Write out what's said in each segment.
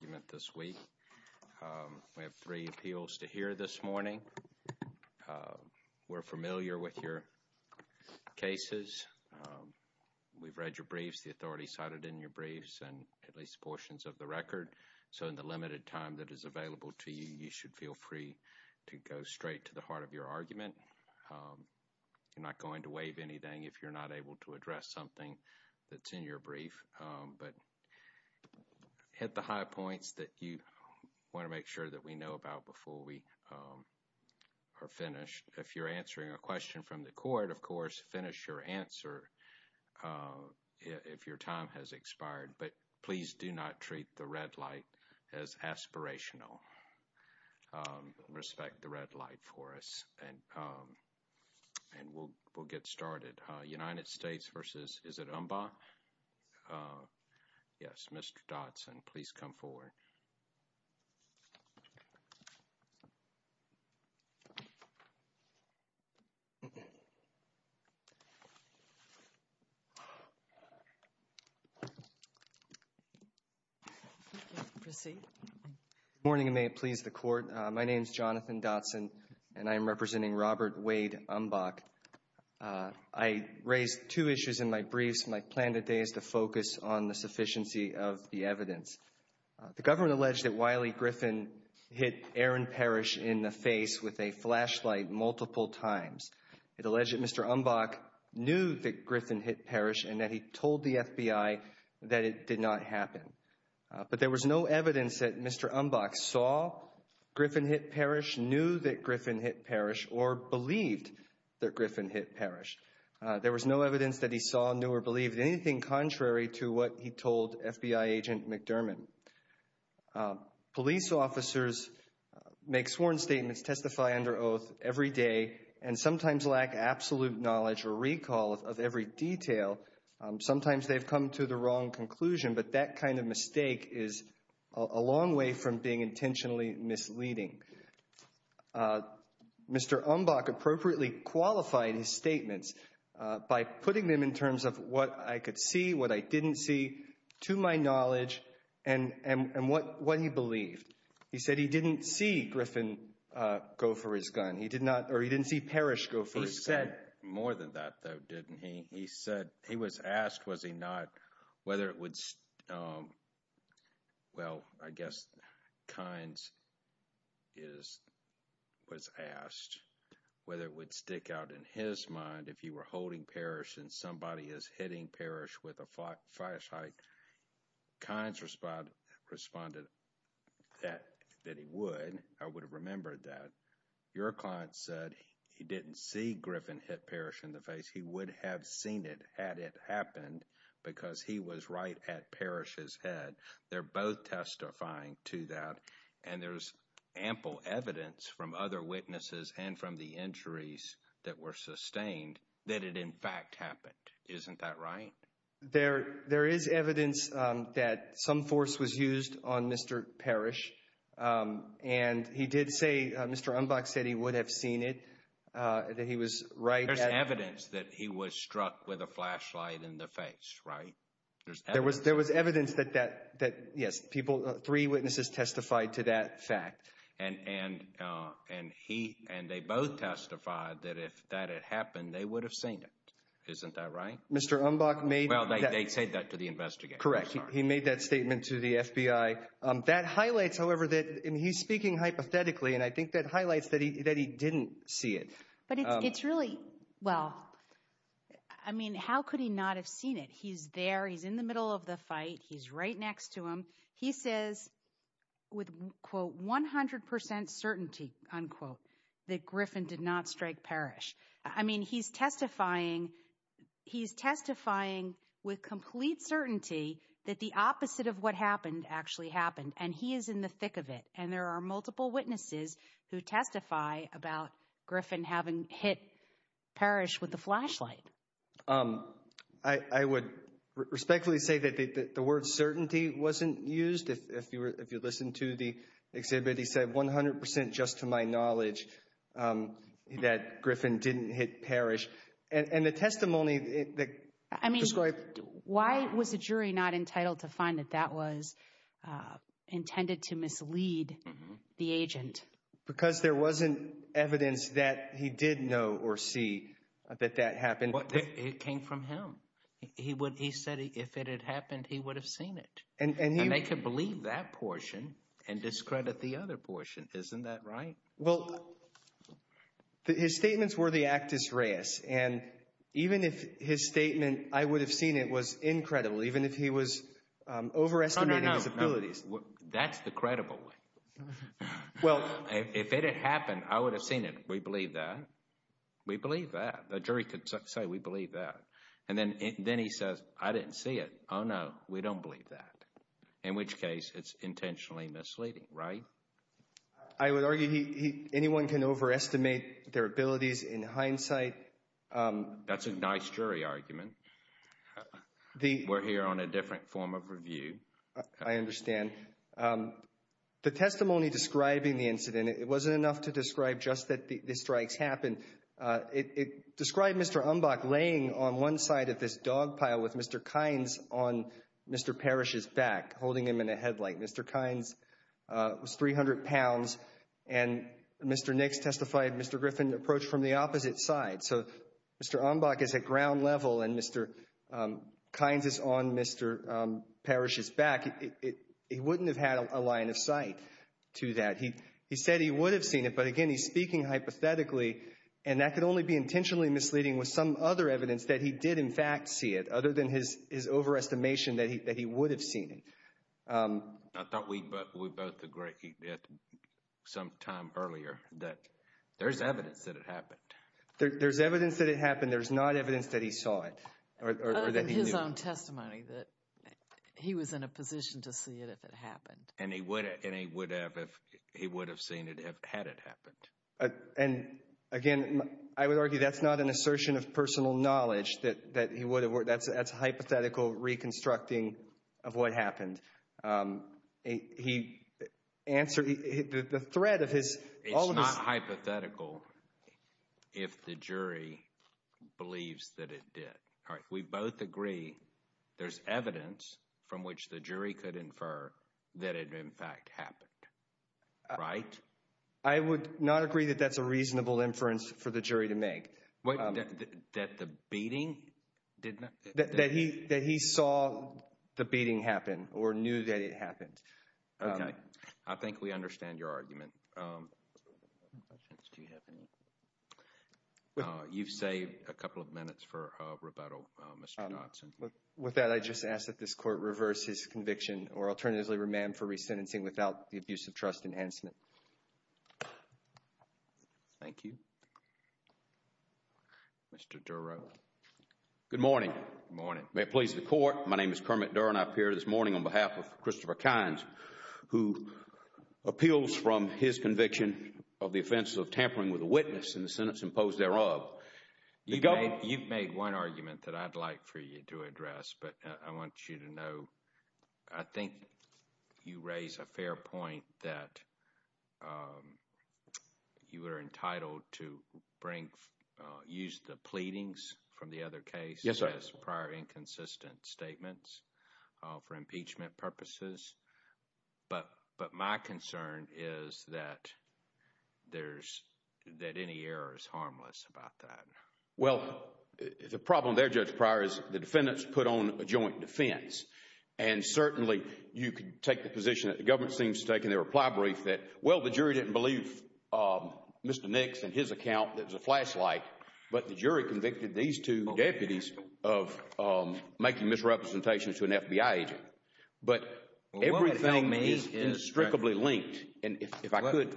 you meant this week. We have three appeals to hear this morning. We're familiar with your cases. We've read your briefs, the authority cited in your briefs and at least portions of the record. So in the limited time that is available to you, you should feel free to go straight to the heart of your argument. You're not going to waive anything if you're not able to address something that's in your brief. But hit the high points that you want to make sure that we know about before we are finished. If you're answering a question from the court, of course, finish your answer if your time has expired. But please do not treat the red light as aspirational. Respect the red light for us and we'll get started. United States v. Is it Umbach? Yes, Mr. Dotson, please come forward. Good morning and may it please the court. My name is Jonathan Dotson and I am representing Robert Wade Umbach. I raised two issues in my briefs. My plan today is to focus on the sufficiency of the evidence. The government alleged that Wiley Griffin hit Aaron Parrish in the face with a flashlight multiple times. It alleged that Mr. Umbach knew that Griffin hit Parrish and that he told the FBI that it did not happen. But there was no evidence that Mr. Umbach saw Griffin hit Parrish, knew that Griffin hit Parrish, or believed that Griffin hit Parrish. There was no evidence that he saw, knew, or believed anything contrary to what he told FBI agent McDermott. Police officers make sworn statements, testify under oath every day, and sometimes lack absolute knowledge or recall of every detail. Sometimes they've come to the wrong conclusion, but that kind of mistake is a long way from being intentionally misleading. Mr. Umbach appropriately qualified his statements by putting them in terms of what I could see, what I didn't see, to my knowledge, and what he believed. He said he didn't see Griffin go for his gun. He didn't see Parrish go for his gun. He said more than that, though, didn't he? He said, he was asked, was he not, whether it would, well, I guess Kynes is, was asked whether it would stick out in his mind if he were holding Parrish and somebody is hitting Parrish with a flashlight. Kynes responded that he would. I would have remembered that. Your client said he didn't see Griffin hit Parrish in the face. He would have seen it had it happened because he was right at Parrish's head. They're both testifying to that, and there's ample evidence from other witnesses and from the injuries that were sustained that it in fact happened. Isn't that right? There is evidence that some Parrish, and he did say, Mr. Umbach said he would have seen it, that he was right. There's evidence that he was struck with a flashlight in the face, right? There was, there was evidence that, that, that, yes, people, three witnesses testified to that fact. And, and, and he, and they both testified that if that had happened, they would have seen it. Isn't that right? Mr. Umbach made, they said that to the investigators. Correct. He made that statement to the FBI. That highlights, however, that he's speaking hypothetically, and I think that highlights that he, that he didn't see it. But it's really, well, I mean, how could he not have seen it? He's there. He's in the middle of the fight. He's right next to him. He says with quote, 100% certainty, unquote, that Griffin did not strike Parrish. I mean, he's testifying, he's testifying with complete certainty that the opposite of what happened actually happened, and he is in the thick of it. And there are multiple witnesses who testify about Griffin having hit Parrish with the flashlight. I, I would respectfully say that the, the word certainty wasn't used. If, if you were, if you listened to the exhibit, he said 100% just to my knowledge that Griffin didn't hit Parrish. And, and the testimony, I mean, why was the jury not entitled to find that that was intended to mislead the agent? Because there wasn't evidence that he did know or see that that happened. It came from him. He would, he said if it had happened, he would have seen it. And they can believe that portion and discredit the other portion. Isn't that right? Well, his statements were the actus reus. And even if his statement, I would have seen it, was incredible. Even if he was overestimating his abilities. That's the credible way. Well, if it had happened, I would have seen it. We believe that. We believe that. The jury could say we believe that. And then, then he says, I didn't see it. Oh, no, we don't believe that. In which case it's intentionally misleading, right? I would argue he, anyone can overestimate their abilities in hindsight. That's a nice jury argument. We're here on a different form of review. I understand. The testimony describing the incident, it wasn't enough to describe just that the strikes happened. It described Mr. Umbach laying on one side of this dog pile with Mr. Kynes on Mr. Parrish's back, holding him in a headlight. Mr. Kynes was 300 pounds. And Mr. Nix testified Mr. Griffin approached from the opposite side. So, Mr. Umbach is at ground level and Mr. Kynes is on Mr. Parrish's back. He wouldn't have had a line of sight to that. He said he would have seen it. But again, he's speaking hypothetically. And that could only be intentionally misleading with some other evidence that he did, in fact, see it, other than his overestimation that he would have seen it. I thought we both agreed at some time earlier that there's evidence that it happened. There's evidence that it happened. There's not evidence that he saw it. Other than his own testimony that he was in a position to see it if it happened. And he would have seen it had it happened. And again, I would argue that's not an assertion of personal knowledge that he would have. That's hypothetical reconstructing of what happened. The threat of his... It's not hypothetical if the jury believes that it did. We both agree there's evidence from which the jury could infer that it, in fact, happened. Right? I would not agree that that's a reasonable inference for the jury to make. That the beating did not... That he saw the beating happen or knew that it happened. Okay. I think we understand your argument. You've saved a couple of minutes for rebuttal, Mr. Dodson. With that, I just ask that this court reverse his conviction or alternatively remand for resentencing without the abuse of trust enhancement. Thank you. Mr. Durow. Good morning. May it please the court. My name is Kermit Durow and I appear this morning on behalf of Christopher Kynes who appeals from his conviction of the offense of tampering with a witness in the sentence imposed thereof. You've made one argument that I'd like for you to address, but I want you to know I think you raise a fair point that you were entitled to bring... Use the pleadings from the other case as prior inconsistent statements for impeachment purposes. But my concern is that there's... That any error is prior is the defendants put on a joint defense and certainly you could take the position that the government seems to take in their reply brief that, well, the jury didn't believe Mr. Nix and his account that was a flashlight, but the jury convicted these two deputies of making misrepresentations to an FBI agent. But everything is indestructibly linked and if I could...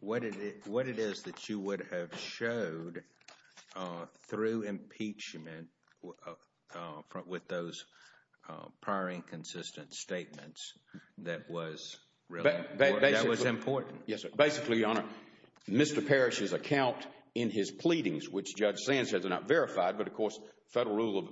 What it is that you would have showed through impeachment with those prior inconsistent statements that was really... That was important. Yes, sir. Basically, Your Honor, Mr. Parrish's account in his pleadings, which Judge Sands says are not verified, but of course federal rule of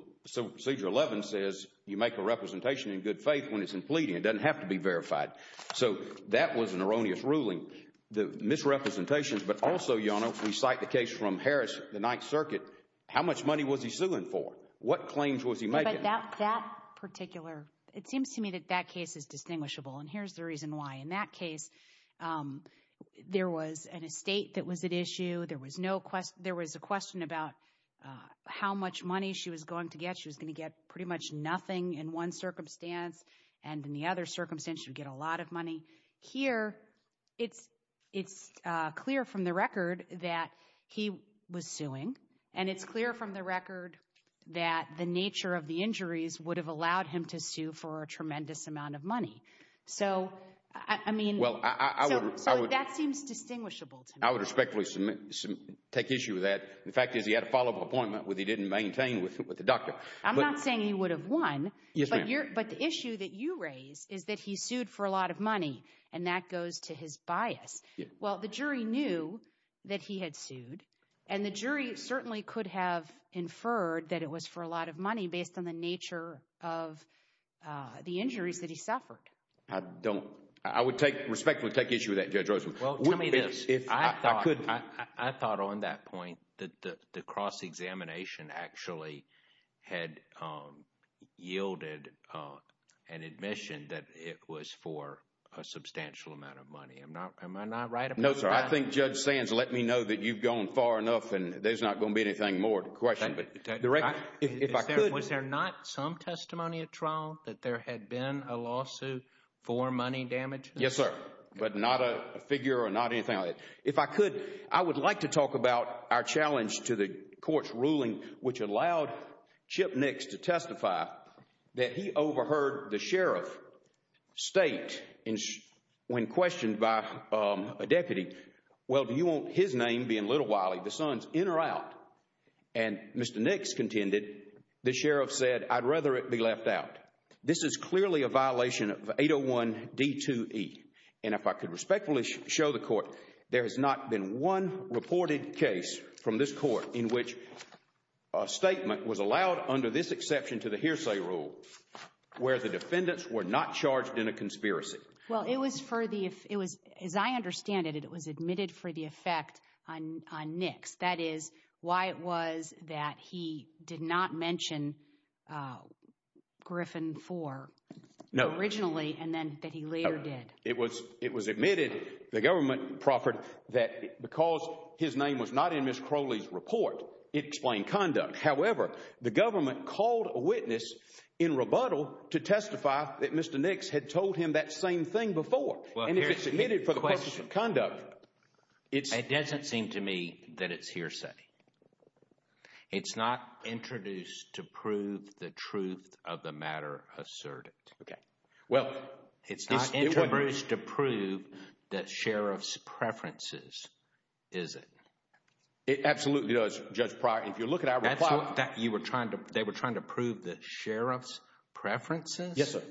procedure 11 says you make a representation in good faith when it's in pleading. It doesn't have to be representations. But also, Your Honor, we cite the case from Harris, the Ninth Circuit. How much money was he suing for? What claims was he making? But that particular... It seems to me that that case is distinguishable and here's the reason why. In that case, there was an estate that was at issue. There was a question about how much money she was going to get. She was going to get pretty much nothing in one circumstance and in the other circumstance, she would get a lot of money. Here, it's clear from the record that he was suing and it's clear from the record that the nature of the injuries would have allowed him to sue for a tremendous amount of money. So, I mean... Well, I would... So that seems distinguishable to me. I would respectfully take issue with that. The fact is he had a follow-up appointment which he didn't maintain with the doctor. I'm not saying he would have won. Yes, ma'am. But the issue that you raise is that he sued for a and that goes to his bias. Well, the jury knew that he had sued and the jury certainly could have inferred that it was for a lot of money based on the nature of the injuries that he suffered. I don't... I would respectfully take issue with that, Judge Rosen. Well, tell me this. I thought on that point that the cross-examination actually had yielded an admission that it was for a substantial amount of money. I'm not... Am I not right about that? No, sir. I think Judge Sands let me know that you've gone far enough and there's not going to be anything more to question. But if I could... Was there not some testimony at trial that there had been a lawsuit for money damage? Yes, sir. But not a figure or not anything like that. If I could, I would like to talk about our challenge to the court's ruling, which allowed Chip Nix to testify that he overheard the sheriff state when questioned by a deputy, well, do you want his name being Little Wiley, the son's in or out? And Mr. Nix contended, the sheriff said, I'd rather it be left out. This is clearly a violation of 801 D2E. And if I could respectfully show the court, there has not been one reported case from this court in which a statement was allowed under this exception to the hearsay rule where the defendants were not charged in a conspiracy. Well, it was for the... As I understand it, it was admitted for the effect on Nix. That is why it was that he did not mention Griffin IV originally and then that he later did. It was admitted, the government proffered that because his name was not in Ms. Crowley's report, it explained conduct. However, the government called a witness in rebuttal to testify that Mr. Nix had told him that same thing before. And if it's admitted for the purposes of conduct... It doesn't seem to me that it's hearsay. It's not introduced to prove the truth of the matter asserted. Okay. Well, it's not introduced to prove the sheriff's preferences, is it? It absolutely does, Judge Pryor. If you look at our reply... You were trying to... They were trying to prove the sheriff's preferences? Yes, sir.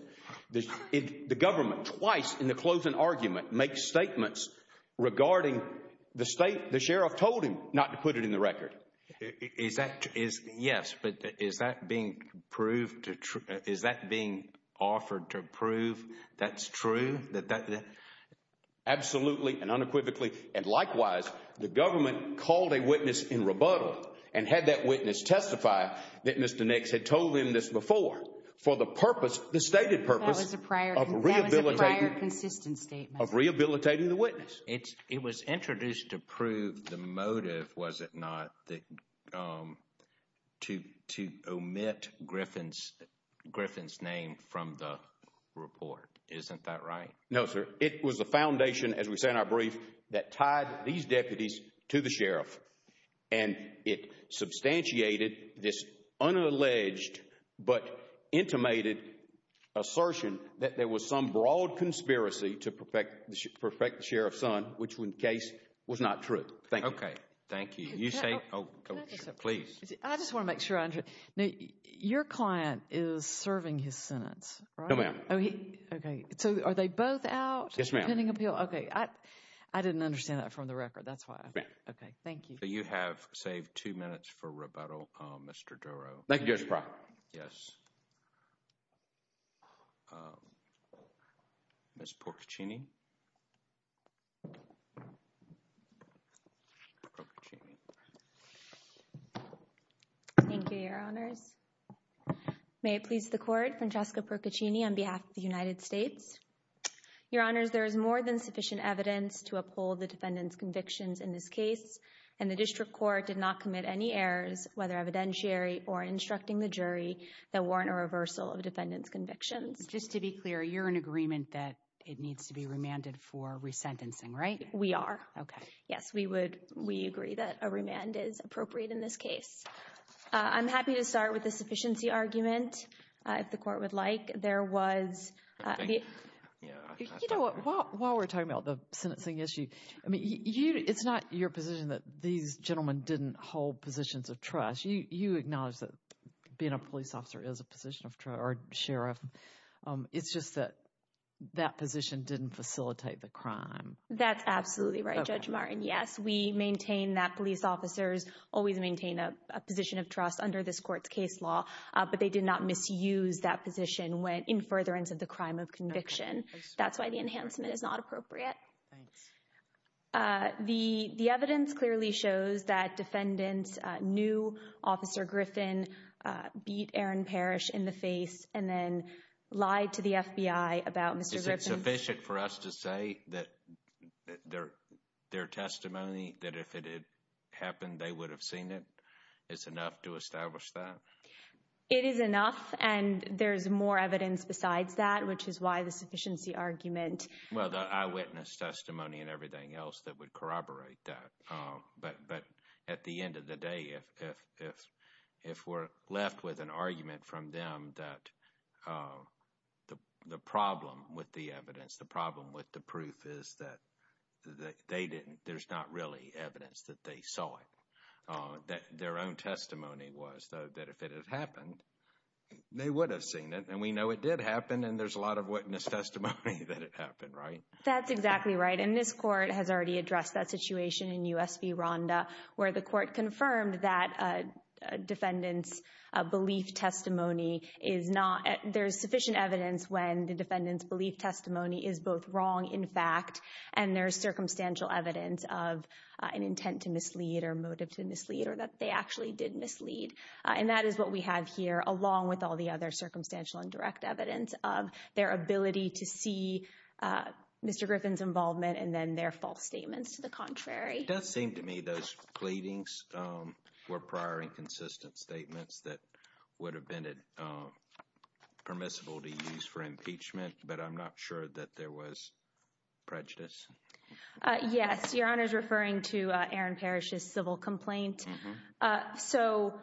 The government twice in the closing argument makes statements regarding the state the sheriff told him not to put it in the record. Is that... Yes, but is that being proved to... Is that being offered to prove that's true? Absolutely and unequivocally and likewise, the government called a witness in rebuttal and had that witness testify that Mr. Nix had told him this before for the purpose, the stated purpose of rehabilitating... That was a prior consistent statement. Of rehabilitating the witness. It was introduced to prove the motive, was it not, to omit Griffin's name from the report. Isn't that right? No, sir. It was the foundation, as we say in our brief, that tied these deputies to the sheriff and it substantiated this unalleged but intimated assertion that there was some broad conspiracy to perfect the sheriff's son, which in case was not true. Thank you. Okay, thank you. You say... Please. I just want to make sure. Now, your client is serving his sentence, right? No, ma'am. Okay, so are they both out? Yes, ma'am. Okay, I didn't understand that from the record. That's why. Okay, thank you. So, you have saved two minutes for rebuttal, Mr. Dorough. Thank you, Mr. Pryor. Yes, Ms. Porcaccini. Thank you, your honors. May it please the court, Francesca Porcaccini on behalf of the United States. Your honors, there is more than sufficient evidence to uphold the defendant's convictions in this case and the district court did not commit any errors, whether evidentiary or instructing the jury that warrant a reversal of defendant's convictions. Just to be clear, you're in agreement that it needs to be remanded for resentencing, right? We are. Okay. Yes, we agree that a remand is appropriate in this case. I'm happy to start with the sufficiency argument, if the court would like. There was... You know what, while we're talking about the sentencing issue, I mean, it's not your position that these gentlemen didn't hold positions of trust. You acknowledge that being a police officer is a position of trust or sheriff. It's just that that position didn't facilitate the crime. That's absolutely right, Judge Martin. Yes, we maintain that police officers always maintain a position of trust under this court's case law, but they did not misuse that position when in furtherance of the crime of conviction. That's why the enhancement is not Aaron Parrish in the face and then lie to the FBI about Mr. Griffin. Is it sufficient for us to say that their testimony, that if it had happened, they would have seen it? It's enough to establish that? It is enough, and there's more evidence besides that, which is why the sufficiency argument... Well, the eyewitness testimony and everything else that would corroborate that. But at the end of the day, if we're left with an argument from them that the problem with the evidence, the problem with the proof is that there's not really evidence that they saw it. Their own testimony was that if it had happened, they would have seen it, and we know it did happen, and there's a lot of witness testimony that it happened, right? That's exactly right. And this court has already addressed that situation in U.S. v. Rhonda, where the court confirmed that a defendant's belief testimony is not... There's sufficient evidence when the defendant's belief testimony is both wrong in fact, and there's circumstantial evidence of an intent to mislead or motive to mislead or that they actually did mislead. And that is what we have here, along with all the other circumstantial and direct evidence of their ability to see Mr. Griffin's involvement and then their false statements to the contrary. It does seem to me those pleadings were prior and consistent statements that would have been permissible to use for impeachment, but I'm not sure that there was prejudice. Yes. Your Honor is referring to Aaron Parrish's civil complaint. So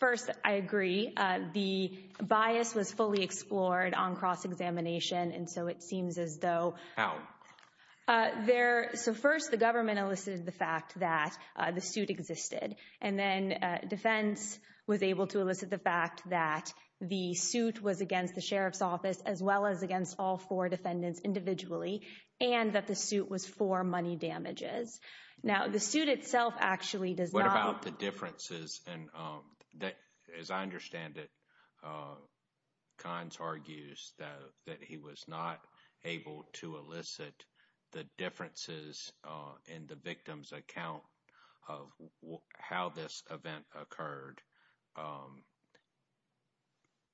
first, I agree. The bias was fully explored on cross-examination, and so it seems as though... How? So first, the government elicited the fact that the suit existed, and then defense was able to elicit the fact that the suit was against the Sheriff's Office, as well as against all four defendants individually, and that the suit was for money damages. Now, the suit itself actually does not... What about the differences? And as I understand it, Kahns argues that he was not able to elicit the differences in the victim's account of how this event occurred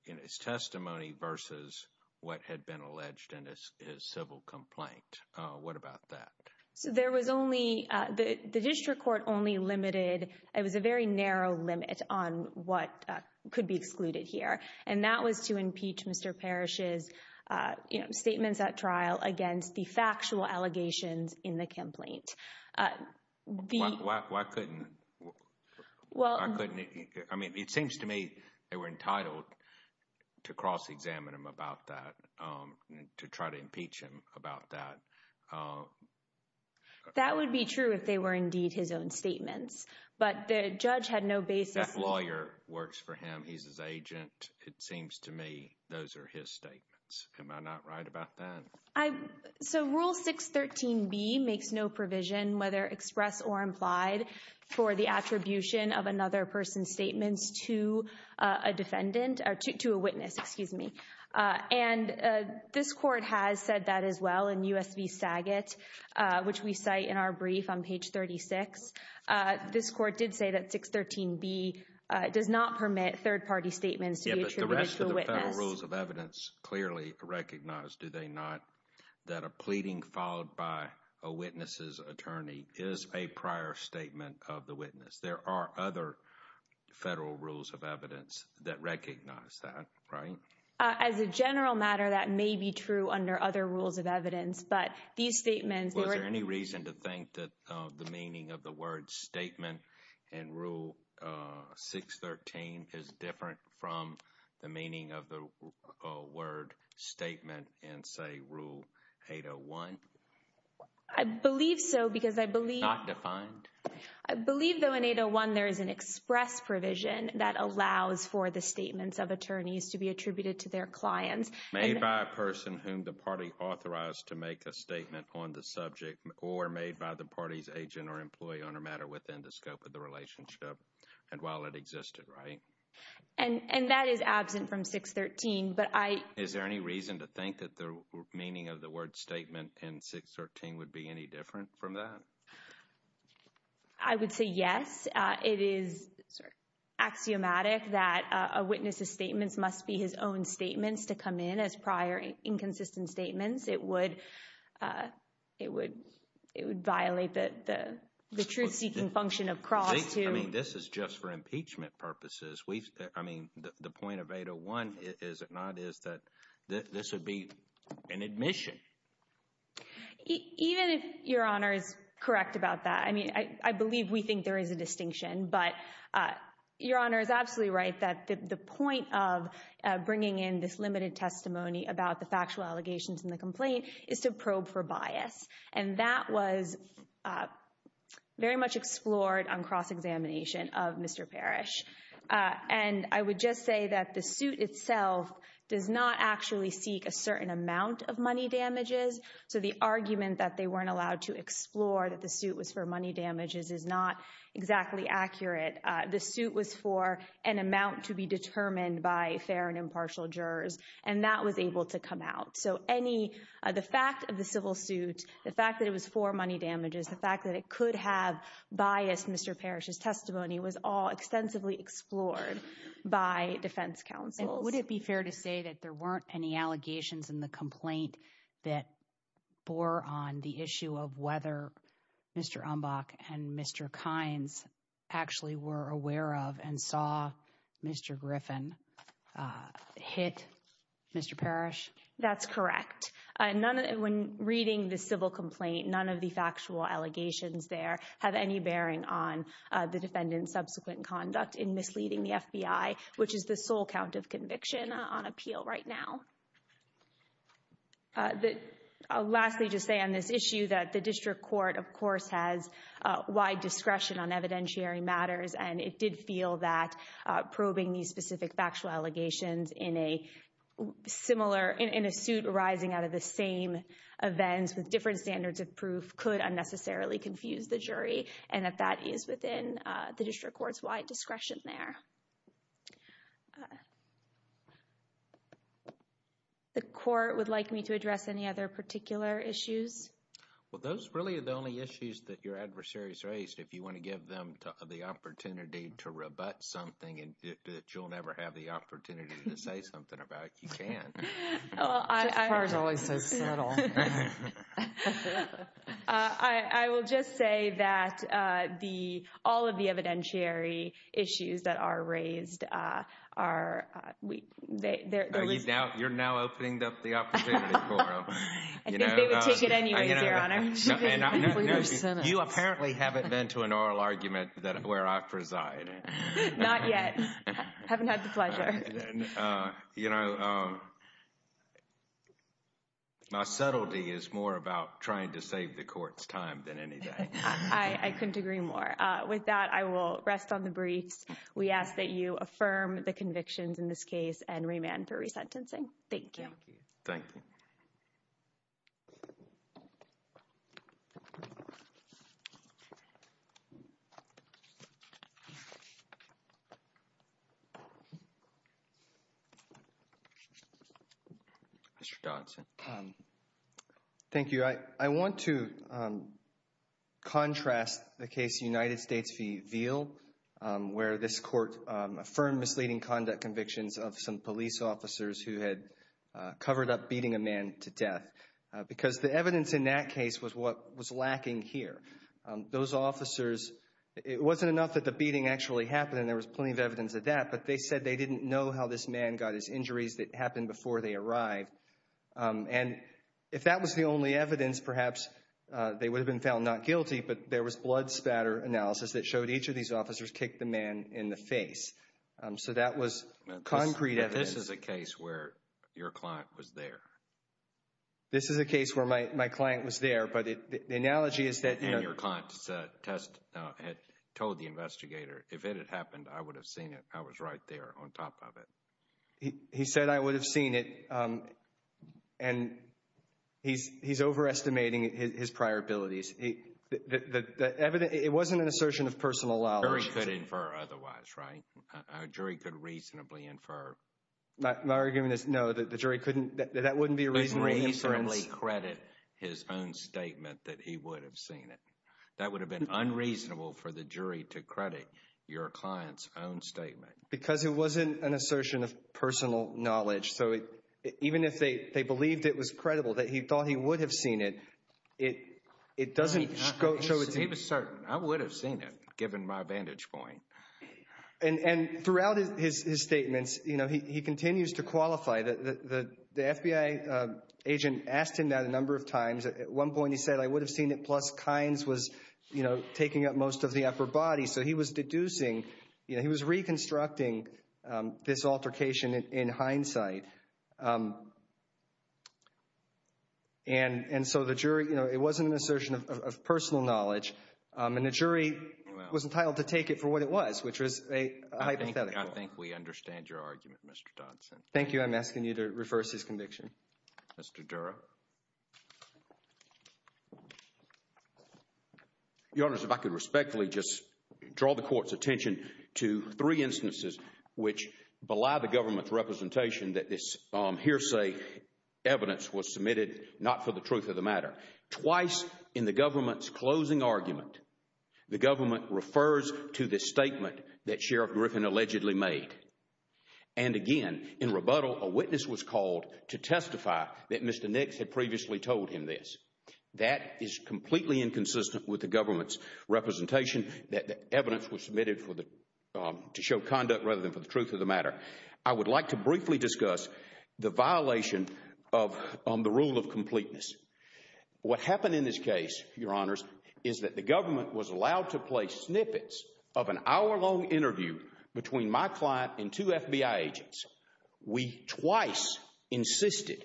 in his testimony versus what had been alleged in his civil complaint. What about that? So there was only... The district court only limited... It was a very narrow limit on what could be excluded here, and that was to impeach Mr. Parrish's statements at trial against the factual allegations in the complaint. Why couldn't... I mean, it seems to me they were entitled to cross-examine him about that, to try to impeach him about that. That would be true if they were indeed his own statements, but the judge had no basis... That lawyer works for him. He's his agent. It seems to me those are his statements. Am I not right about that? So Rule 613B makes no provision, whether expressed or implied, for the attribution of another person's statements to a witness. And this court has said that as well in U.S. v. Saget, which we cite in our brief on page 36. This court did say that 613B does not permit third-party statements to be attributed to a witness. The rest of the federal rules of evidence clearly recognize, do they not, that a pleading followed by a witness's attorney is a prior statement of the witness. There are other federal rules of evidence that recognize that, right? As a general matter, that may be true under other rules of evidence, but these statements... Was there any reason to think that the meaning of the word statement in Rule 613 is different from the meaning of the word statement in, say, Rule 801? I believe so because I believe... Not defined? I believe though in 801 there is an express provision that allows for the statements of attorneys to be attributed to their clients. Made by a person whom the party authorized to make a statement on the subject or made by the party's agent or employee on a matter within the scope of the relationship and while it existed, right? And that is absent from 613, but I... Is there any reason to think that the meaning of the word statement in 613 would be any different from that? I would say yes. It is axiomatic that a witness's statements must be his own statements to come in as prior inconsistent statements. It would violate the truth-seeking function of cross to... I mean, this is just for impeachment purposes. Even if Your Honor is correct about that, I mean, I believe we think there is a distinction, but Your Honor is absolutely right that the point of bringing in this limited testimony about the factual allegations in the complaint is to probe for bias, and that was very much explored on cross-examination of Mr. Parrish. And I would just say that the suit itself does not actually seek a certain amount of money damages, so the argument that they weren't allowed to explore that the suit was for money damages is not exactly accurate. The suit was for an amount to be determined by fair and impartial jurors, and that was able to come out. So any... The fact of the civil suit, the fact that it was for money damages, the fact that it could have biased Mr. Parrish's testimony was all extensively explored by defense counsels. Would it be fair to say that there weren't any allegations in the complaint that bore on the issue of whether Mr. Umbach and Mr. Kynes actually were aware of and saw Mr. Griffin hit Mr. Parrish? That's correct. None of... When reading the civil complaint, none of the factual allegations there have any bearing on the defendant's subsequent conduct in misleading the FBI, which is the sole count of conviction on appeal right now. I'll lastly just say on this issue that the district court, of course, has wide discretion on evidentiary matters, and it did feel that probing these specific factual allegations in a similar... In a suit arising out of the same events with different standards of proof could unnecessarily confuse the jury, and that that is within the district court's wide discretion there. The court would like me to address any other particular issues? Well, those really are the only issues that your adversary's raised. If you want to give them the opportunity to rebut something that you'll never have the opportunity to say something about, you can. I will just say that all of the evidentiary issues that are raised are... You're now opening up the opportunity for them. I think they would take it anyways, Your Honor. You apparently haven't been to an oral argument where I preside. Not yet. I haven't had the pleasure. My subtlety is more about trying to save the court's time than anything. I couldn't agree more. With that, I will rest on the briefs. We ask that you affirm the convictions in this case and remand for resentencing. Thank you. Thank you. Mr. Johnson. Thank you. I want to contrast the case United States v. Veal, where this court affirmed misleading conduct convictions of some police officers who had covered up beating a man to death. The evidence in that case was what was lacking here. It wasn't enough that the beating actually happened, and there was plenty of evidence of that, but they said they didn't know how this man got his injuries that happened before they arrived. If that was the only evidence, perhaps they would have been found not guilty, but there was blood spatter analysis that showed each of these officers kicked the man in the face, so that was concrete evidence. But this is a case where your client was there. This is a case where my client was there, but the analogy is that— And your client had told the investigator, if it had happened, I would have seen it. I was right there on top of it. He said, I would have seen it, and he's overestimating his prior abilities. The evidence—it wasn't an assertion of personal knowledge. Jury could infer otherwise, right? A jury could reasonably infer. My argument is, no, the jury couldn't—that wouldn't be a reasonable inference. Couldn't reasonably credit his own statement that he would have seen it. That would have been unreasonable for the jury to credit your client's own statement. Because it wasn't an assertion of personal knowledge, so even if they believed it was true— He was certain. I would have seen it, given my vantage point. And throughout his statements, he continues to qualify. The FBI agent asked him that a number of times. At one point he said, I would have seen it, plus Kynes was taking up most of the upper body. So he was deducing—he was reconstructing this altercation in hindsight. And so the jury—you know, it wasn't an assertion of personal knowledge, and the jury was entitled to take it for what it was, which was a hypothetical. I think we understand your argument, Mr. Dodson. Thank you. I'm asking you to reverse his conviction. Mr. Dura. Your Honor, if I could respectfully just draw the Court's attention to three instances which belie the government's representation that this hearsay evidence was submitted not for the truth of the matter. Twice in the government's closing argument, the government refers to the statement that Sheriff Griffin allegedly made. And again, in rebuttal, a witness was called to testify that Mr. Nix had previously told him this. That is completely inconsistent with the government's representation that the I would like to briefly discuss the violation of the rule of completeness. What happened in this case, Your Honors, is that the government was allowed to play snippets of an hour-long interview between my client and two FBI agents. We twice insisted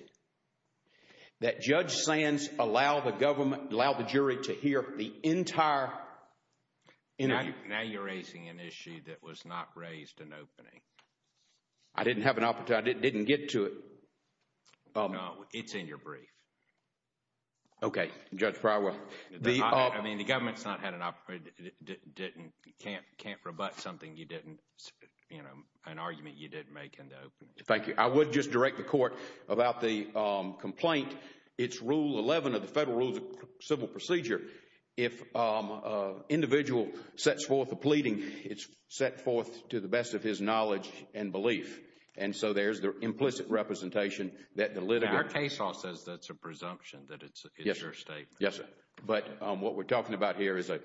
that Judge Sands allow the government—allow the jury to hear the entire interview. Now you're raising an issue that was not raised in opening. I didn't have an opportunity. I didn't get to it. No, it's in your brief. Okay. Judge Prywell. I mean, the government's not had an opportunity—can't rebut something you didn't, you know, an argument you didn't make in the opening. Thank you. I would just direct the Court about the complaint. It's Rule 11 of the Federal Rules of Civil Procedure. If an individual sets forth a pleading, it's set forth to the best of his knowledge and belief. And so there's the implicit representation that the litigant— Our case law says that's a presumption, that it's your statement. Yes, sir. But what we're talking about here is an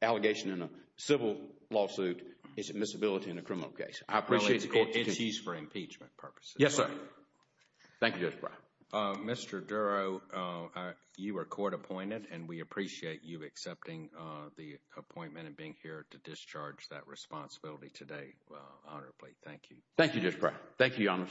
allegation in a civil lawsuit. It's admissibility in a criminal case. I appreciate the Court— It's used for impeachment purposes. Yes, sir. Thank you, Judge Prywell. Mr. Duro, you were court-appointed, and we appreciate you accepting the appointment and being here to discharge that responsibility today, honorably. Thank you, Judge Prywell. Thank you, Your Honors.